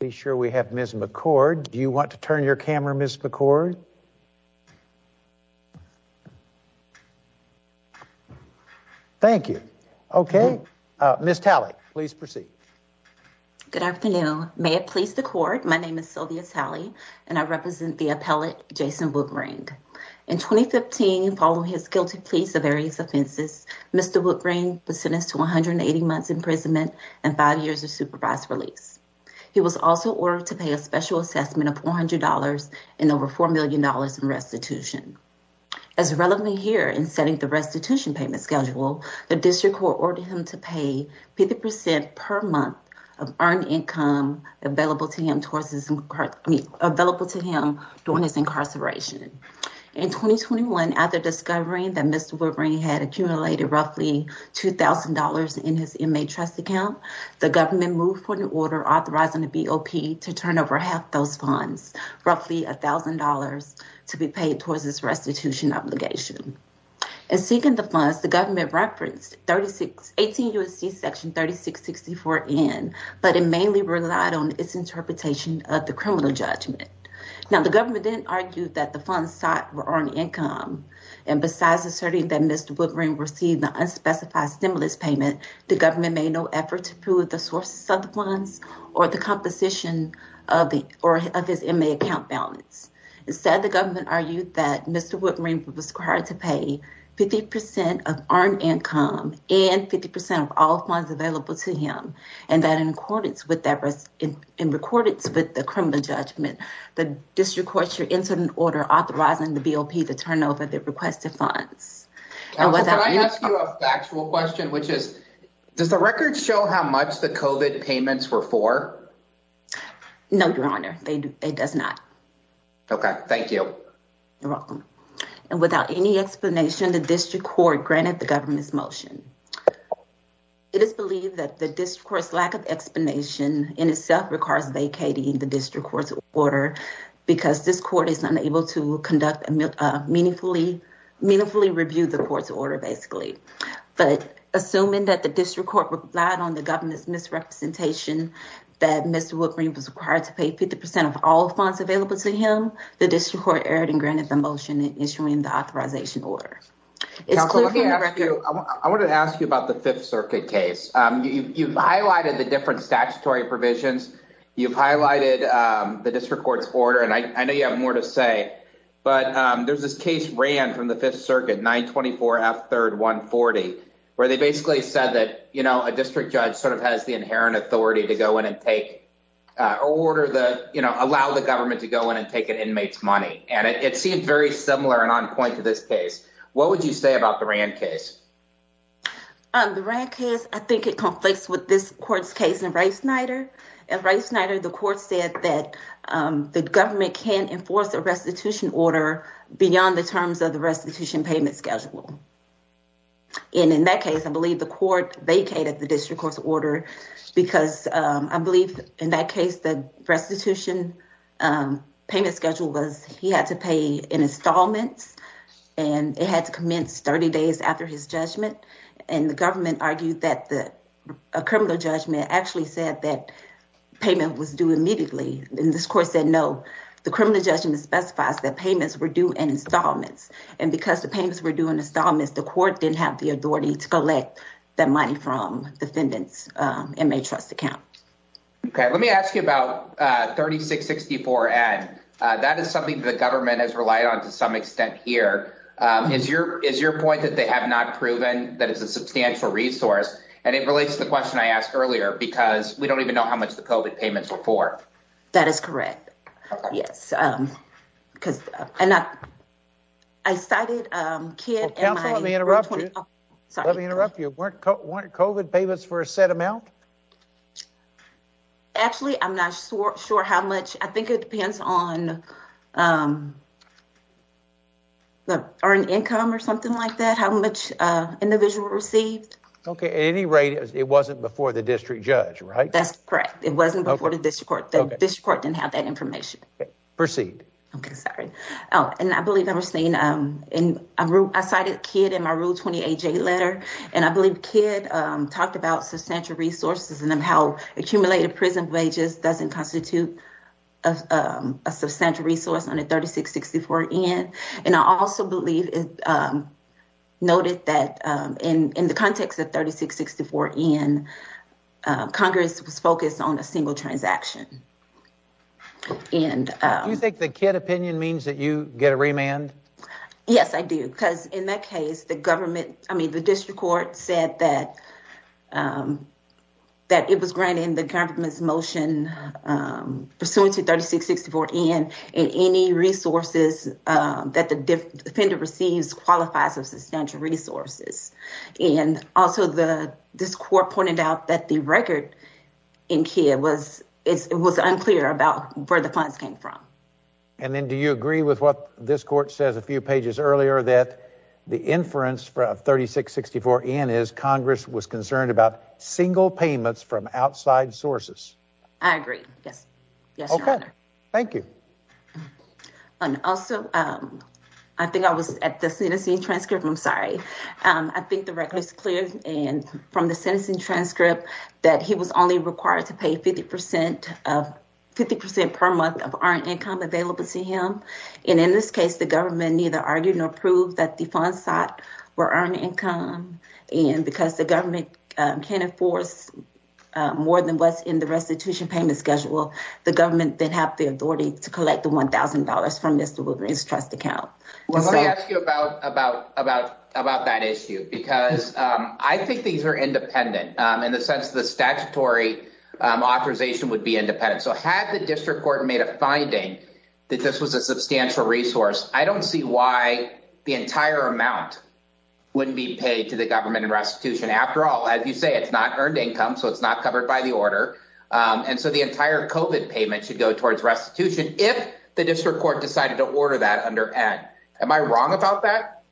Be sure we have Ms. McCord. Do you want to turn your camera, Ms. McCord? Thank you. Okay, Ms. Talley, please proceed. Good afternoon. May it please the court, my name is Sylvia Talley, and I represent the appellate Jason Woodring. In 2015, following his guilty pleas of various offenses, Mr. Woodring was sentenced to 180 months imprisonment and five years of supervised release. He was also ordered to pay a special assessment of $400 and over $4 million in restitution. As relevant here in setting the restitution payment schedule, the district court ordered him to pay 50% per month of earned income available to him during his incarceration. In 2021, after discovering that Mr. Woodring had accumulated roughly $2,000 in his inmate trust account, the government moved for an order authorizing the BOP to turn over half those funds, roughly $1,000, to be paid towards his restitution obligation. In seeking the funds, the government referenced 18 U.S.C. section 3664 N, but it mainly relied on its interpretation of the criminal judgment. Now, the government then argued that the funds sought were earned income, and besides asserting that Mr. Woodring received an unspecified stimulus payment, the government made no effort to prove the sources of the funds or the composition of his inmate account balance. Instead, the government argued that Mr. Woodring was required to pay 50% of earned income and 50% of all funds available to him, and that in accordance with the criminal judgment, the district court should enter an order authorizing the BOP to turn over the requested funds. Counselor, can I ask you a factual question, which is, does the record show how much the COVID payments were for? No, Your Honor, it does not. Okay, thank you. You're welcome. And without any explanation, the district court granted the government's motion. It is believed that the district court's lack of explanation in itself requires vacating the district court's order because this court is unable to conduct a meaningfully, meaningfully review the court's order, basically. But assuming that the district court relied on the government's misrepresentation that Mr. Woodring was required to pay 50% of all funds available to him, the district court erred and granted the motion issuing the authorization order. Counselor, I wanted to ask you about the Fifth Circuit case. You've highlighted the different statutory provisions. You've highlighted the district court's order, and I know you have more to say, but there's this case ran from the Fifth Circuit, 924 F 3rd 140, where they basically said that a district judge sort of has the inherent authority to go in and take, or order the, allow the government to go in and take an inmate's money. And it seemed very similar and on point to this case. What would you say about the Rand case? The Rand case, I think it conflicts with this court's case in Wright Snyder. In Wright Snyder, the court said that the government can enforce a restitution order beyond the terms of the restitution payment schedule. And in that case, I believe the court vacated the district court's order because I believe in that case, the and it had to commence 30 days after his judgment. And the government argued that a criminal judgment actually said that payment was due immediately. And this court said, no, the criminal judgment specifies that payments were due in installments. And because the payments were due in installments, the court didn't have the authority to collect that money from defendants' inmate trust account. Okay. Let me ask you about 3664N. That is something the is your point that they have not proven that it's a substantial resource. And it relates to the question I asked earlier, because we don't even know how much the COVID payments were for. That is correct. Yes. Because I'm not, I cited Kidd and my- Counsel, let me interrupt you. Let me interrupt you. Weren't COVID payments for a set amount? Actually, I'm not sure how much. I think it depends on the earned income or something like that, how much individual received. Okay. At any rate, it wasn't before the district judge, right? That's correct. It wasn't before the district court. The district court didn't have that information. Okay. Proceed. Okay. Sorry. And I believe I was saying, I cited Kidd in my Rule 28J letter. And I believe Kidd talked about substantial resources and how accumulated prison wages doesn't constitute a substantial resource on a 3664N. And I also believe it noted that in the context of 3664N, Congress was focused on a single transaction. Do you think the Kidd opinion means that you get a remand? Yes, I do. Because in that case, the government, I mean, the district court said that that it was granting the government's motion pursuant to 3664N and any resources that the defendant receives qualifies of substantial resources. And also, this court pointed out that the record in Kidd was unclear about where the funds came from. And then do you agree with what this court says a few pages earlier, that the inference for a 3664N is Congress was concerned about single payments from outside sources? I agree. Yes. Yes, Your Honor. Okay. Thank you. And also, I think I was at the sentencing transcript. I'm sorry. I think the record is clear. And from the sentencing transcript, that he was only required to pay 50% per month of earned income available to him. And in this case, the government neither argued nor proved that the funds sought were earned income. And because the government can't enforce more than what's in the restitution payment schedule, the government then have the authority to collect the $1,000 from Mr. Woodring's trust account. Well, let me ask you about that issue, because I think these are independent in the sense of the statutory authorization would be independent. So had the district court made a finding that this was a substantial resource, I don't see why the entire amount wouldn't be paid to the government in restitution. After all, as you say, it's not earned income, so it's not covered by the order. And so the entire COVID payment should go towards restitution if the district court decided to order that under N. Am I wrong about that?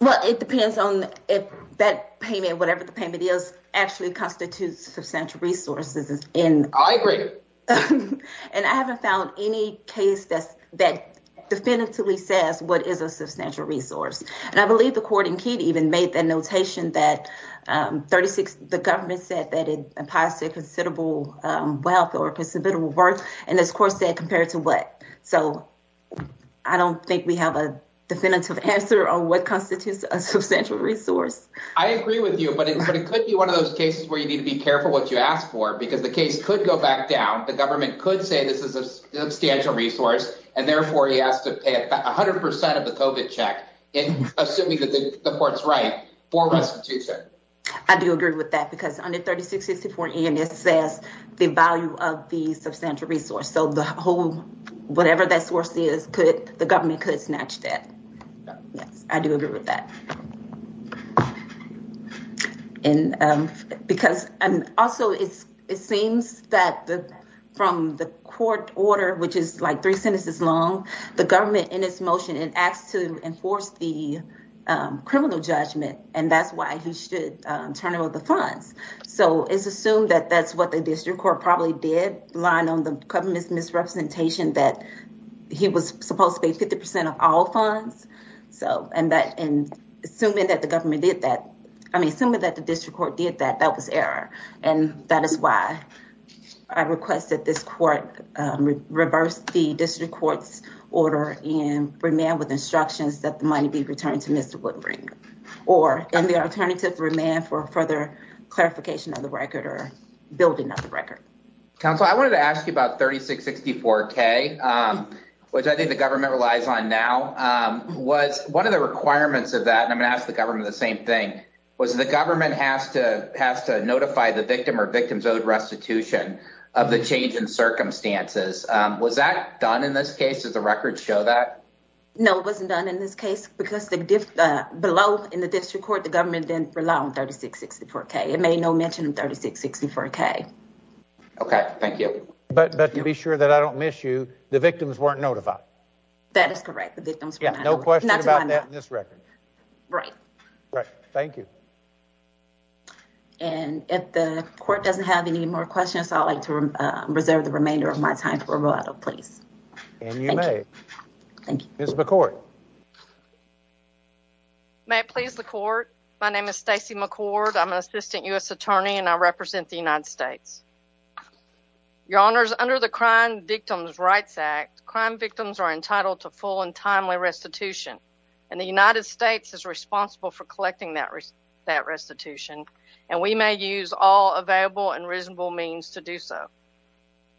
Well, it depends on if that payment, whatever the payment is, actually constitutes substantial resources. I agree. And I haven't found any case that definitively says what is a substantial resource. And I believe the court in Keene even made the notation that 36, the government said that it applies to considerable wealth or considerable worth. And this court said compared to what? So I don't think we have a definitive answer on what constitutes a substantial resource. I agree with you, but it could be one of those cases where you need to be careful what you ask for because the case could go back down. The government could say this is a substantial resource and therefore he has to pay 100 percent of the COVID check in assuming that the court's right for restitution. I do agree with that because under 36, 64, and it says the value of the substantial resource. So the whole whatever that source is, could the government could snatch that. Yes, I do agree with that. And because also it seems that from the court order, which is like three sentences long, the government in its motion, it asked to enforce the criminal judgment and that's why he should turn over the funds. So it's assumed that that's what the district court probably did, relying on the government's misrepresentation that he was supposed to pay 50 percent of all funds. So and that in assuming that the government did that, I mean, assuming that the district court did that, that was error. And that is why I request that this court reverse the district court's order and remain with instructions that the money be returned to Mr. Woodbring or in the alternative remain for further clarification of the record or building of the record. Counsel, I wanted to ask you about 36, 64K, which I think the government relies on now. One of the requirements of that, and I'm going to ask the government the same thing, was the government has to has to notify the victim or victims of restitution of the change in circumstances. Was that done in this case? Does the record show that? No, it wasn't done in this case because the below in the district court, the government didn't rely on 36, 64K. It made no mention of 36, 64K. OK, thank you. But to be sure that I don't miss you, the victims weren't notified. That is correct, the victims were not notified. No question about that in this record. Right. Right. Thank you. And if the court doesn't have any more questions, I'd like to reserve the remainder of my time for a rollout, please. And you may. Thank you. Ms. McCord. May it please the court. My name is Stacey McCord. I'm an assistant U.S. attorney and I represent the United States. Your honors, under the Crime Victims' Rights Act, crime victims are entitled to full and timely restitution. And the United States is responsible for collecting that restitution. And we may use all available and reasonable means to do so.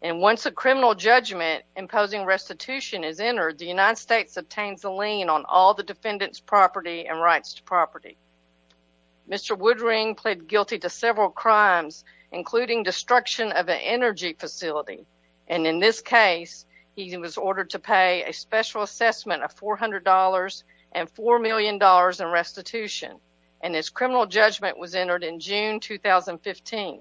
And once a criminal judgment imposing restitution is entered, the United States obtains a lien on all the defendant's property and rights to property. Mr. Woodring pled guilty to several a special assessment of $400 and $4 million in restitution. And his criminal judgment was entered in June 2015.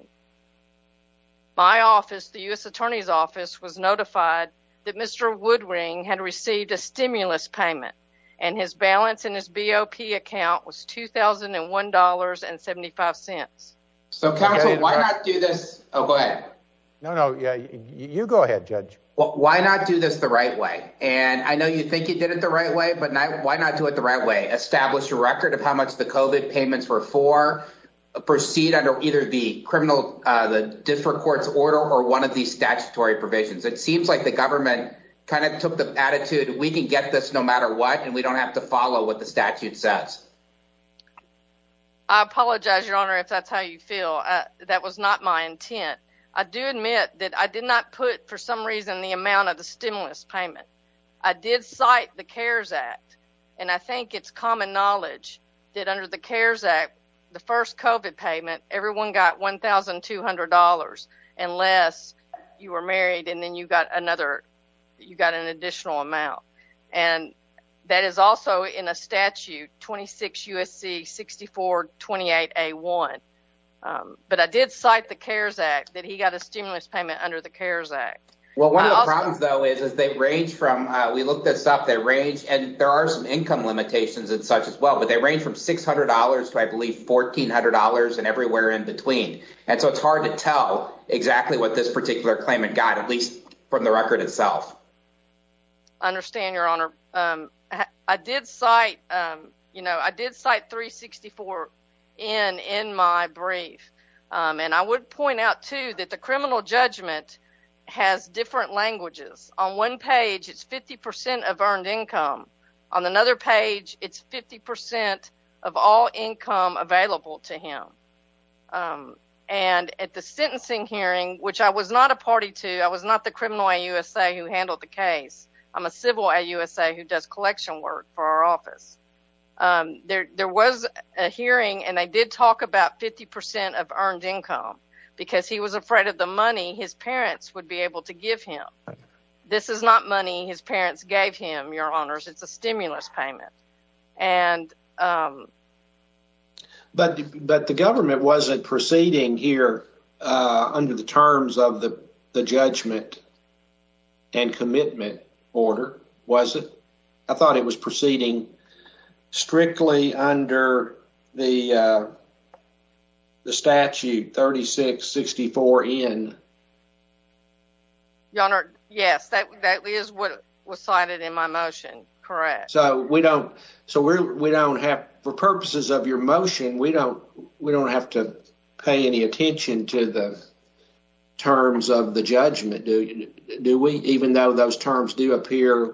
My office, the U.S. attorney's office, was notified that Mr. Woodring had received a stimulus payment. And his balance in his BOP account was $2,001.75. So counsel, why not do this? Oh, go ahead. Why not do this the right way? And I know you think you did it the right way, but why not do it the right way? Establish a record of how much the COVID payments were for. Proceed under either the criminal, the differ courts order or one of these statutory provisions. It seems like the government kind of took the attitude, we can get this no matter what, and we don't have to follow what the statute says. I apologize, your honor, if that's how you feel. That was not my intent. I do admit that I did not put, for some reason, the amount of the stimulus payment. I did cite the CARES Act, and I think it's common knowledge that under the CARES Act, the first COVID payment, everyone got $1,200 unless you were married and then you got another, you got an additional amount. And that is also in a statute, 26 U.S.C. 6428A1. But I did cite the CARES Act that he got a Well, one of the problems, though, is they range from, we looked this up, they range, and there are some income limitations and such as well, but they range from $600 to, I believe, $1,400 and everywhere in between. And so it's hard to tell exactly what this particular claimant got, at least from the record itself. I understand, your honor. I did cite, you know, I did cite 364 in my brief. And I would point out, too, that the criminal judgment has different languages. On one page, it's 50% of earned income. On another page, it's 50% of all income available to him. And at the sentencing hearing, which I was not a party to, I was not the criminal at USA who handled the case. I'm a civil at USA who does collection work for our office. There was a hearing, and they did talk about 50% of earned income because he was afraid of the money his parents would be able to give him. This is not money his parents gave him, your honors. It's a stimulus payment. But the government wasn't proceeding here under the terms of the judgment and commitment order, was it? I thought it was proceeding strictly under the statute 3664 in. Your honor, yes, that is what was cited in my motion. Correct. So we don't have, for purposes of your motion, we don't have to pay any attention to the terms of the judgment, do we? Even though those terms do appear,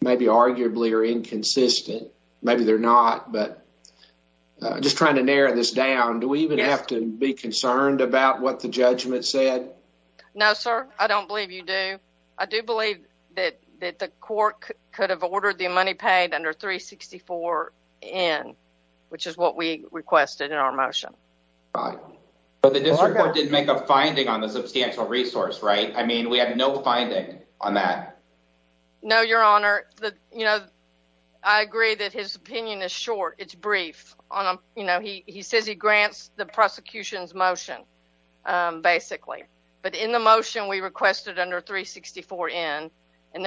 maybe arguably, are inconsistent. Maybe they're not, but I'm just trying to narrow this down. Do we even have to be concerned about what the judgment said? No, sir. I don't believe you do. I do believe that the court could have ordered the money paid under 364 in, which is what we requested in our motion. But the district court didn't make a finding on the substantial resource, right? I mean, we have no finding on that. No, your honor. I agree that his opinion is short. It's brief. He says he grants the prosecution's motion, basically. But in the motion we requested under 364 in, and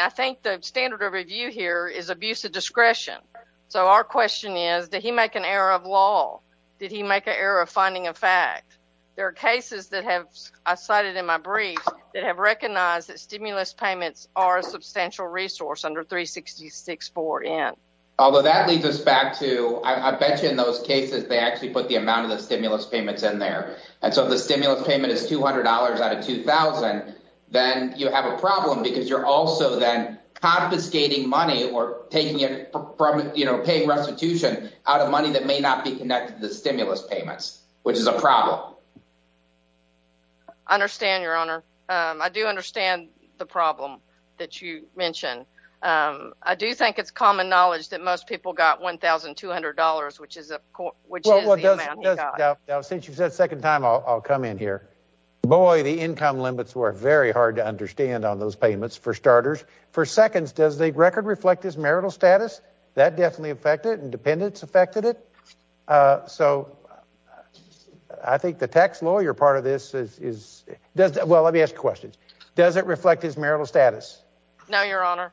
I think the standard of review here is abuse of discretion. So our question is, did he make an error of law? Did he make an error of finding a fact? There are cases that have, I cited in my brief, that have recognized that stimulus payments are a substantial resource under 364 in. Although that leads us back to, I bet you in those cases, they actually put the amount of the stimulus payments in there. And so if the stimulus payment is $200 out of $2,000, then you have a problem because you're also then confiscating money or taking it from, you know, paying restitution out of money that may not be connected to the stimulus payments, which is a problem. I understand, your honor. I do understand the problem that you mentioned. I do think it's common knowledge that most people got $1,200, which is the amount he got. Since you've said second time, I'll come in here. Boy, the income limits were very hard to understand on those payments, for starters. For seconds, does the record reflect his marital status? That definitely affected and dependents affected it. So I think the tax lawyer part of this is, well, let me ask questions. Does it reflect his marital status? No, your honor.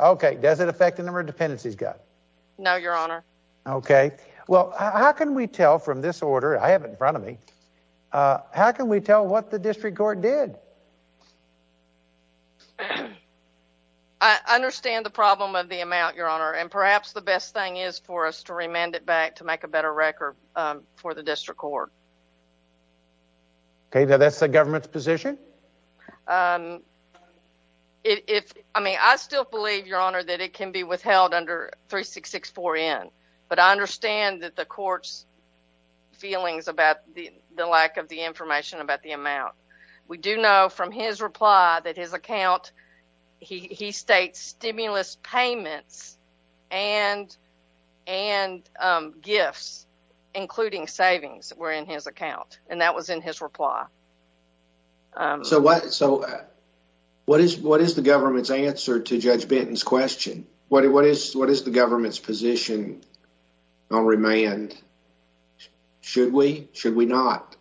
Okay. Does it affect the number of dependents he's got? No, your honor. Okay. Well, how can we tell from this order I have in front of me, how can we tell what the district court did? I understand the problem of the amount, your honor, and perhaps the best thing is for us to remand it back to make a better record for the district court. Okay. Now that's the government's position. I mean, I still believe, your honor, that it can be withheld under 3664N, but I understand that the court's feelings about the lack of the information about the amount. We do know from his reply that his account, he states stimulus payments and gifts, including savings, were in his account, and that was in his reply. So what is the government's answer to Judge Benton's question? What is the government's position on remand? Should we? Should we not?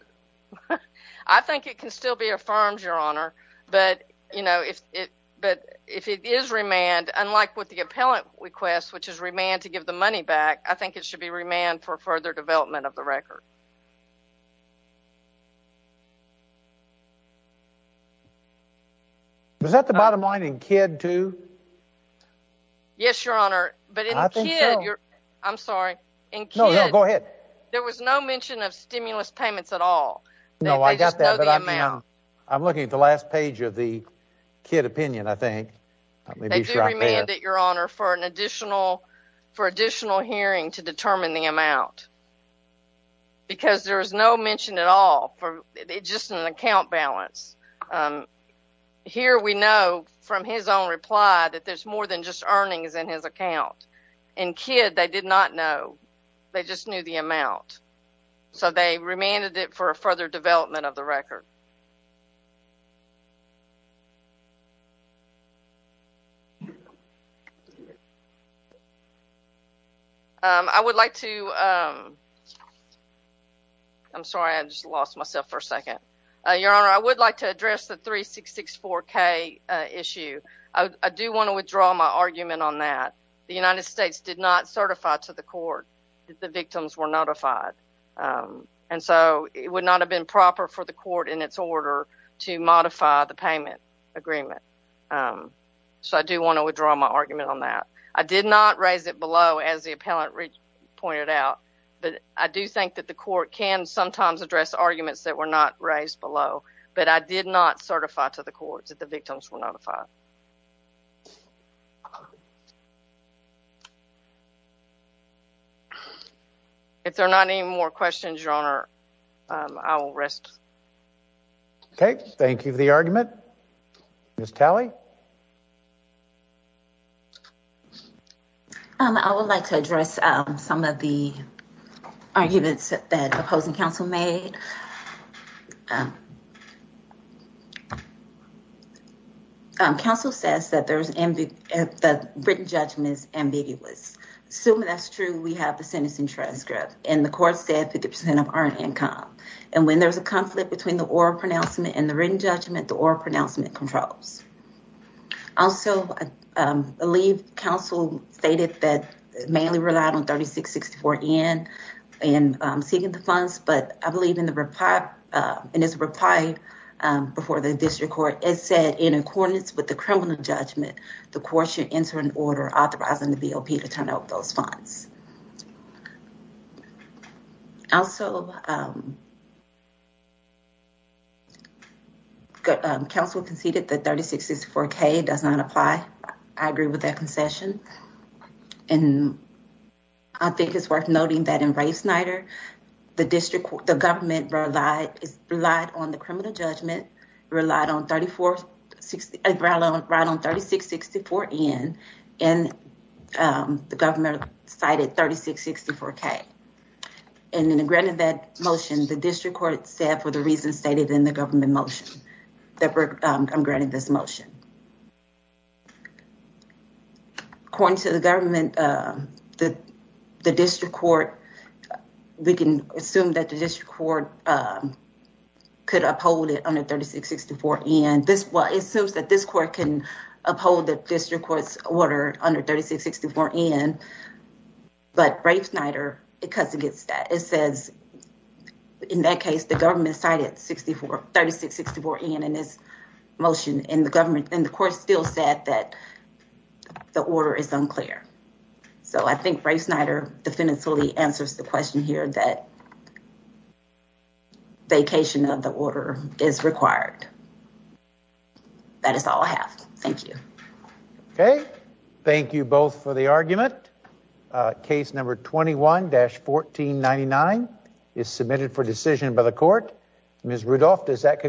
I think it can still be affirmed, your honor, but, you know, if it, but if it is remand, unlike with the appellant request, which is remanded to give the money back, I think it should be remanded for further development of the record. Was that the bottom line in Kidd too? Yes, your honor, but in Kidd, I'm sorry. In Kidd, there was no mention of stimulus payments at all. No, I got that, but I'm looking at the last page of the Kidd opinion, I think. They do remand it, your honor, for an additional, for additional hearing to determine the amount, because there is no mention at all for just an account balance. Here we know from his own reply that there's more than just earnings in his account. They just knew the amount. So they remanded it for further development of the record. I would like to, I'm sorry, I just lost myself for a second. Your honor, I would like to address the 3664K issue. I do want to withdraw my argument on that. The United States did not certify to the court that the victims were notified, and so it would not have been proper for the court in its order to modify the payment agreement. So I do want to withdraw my argument on that. I did not raise it below, as the appellant pointed out, but I do think that the court can sometimes address arguments that were not raised below, but I did not certify to the court. If there are not any more questions, your honor, I will rest. Okay, thank you for the argument. Ms. Talley? I would like to address some of the arguments that opposing counsel made. Counsel says that the written judgment is ambiguous. Assuming that's true, we have the sentencing transcript, and the court said 50% of earned income, and when there's a conflict between the oral pronouncement and the written judgment, the oral pronouncement controls. Also, I believe counsel stated that it mainly relied on 3664N in seeking the funds, but I believe in his reply before the district court, it said, in accordance with the criminal judgment, the court should enter an order authorizing the BOP to turn out those funds. Also, counsel conceded that 3664K does not apply. I agree with that concession, and I think it's worth noting that in Ray Snyder, the district court, the government relied on the criminal judgment, relied on 3664N, and the government cited 3664K. And in granting that motion, the district court said, for the reasons stated in the government motion, that I'm granting this court, we can assume that the district court could uphold it under 3664N. It assumes that this court can uphold the district court's order under 3664N, but Ray Snyder, it cuts against that. It says, in that case, the government cited 3664N in this motion, and the court still said that the order is unclear. So, I think Ray Snyder definitively answers the question here that vacation of the order is required. That is all I have. Thank you. Okay, thank you both for the argument. Case number 21-1499 is submitted for decision by the court. Ms. Rudolph, does that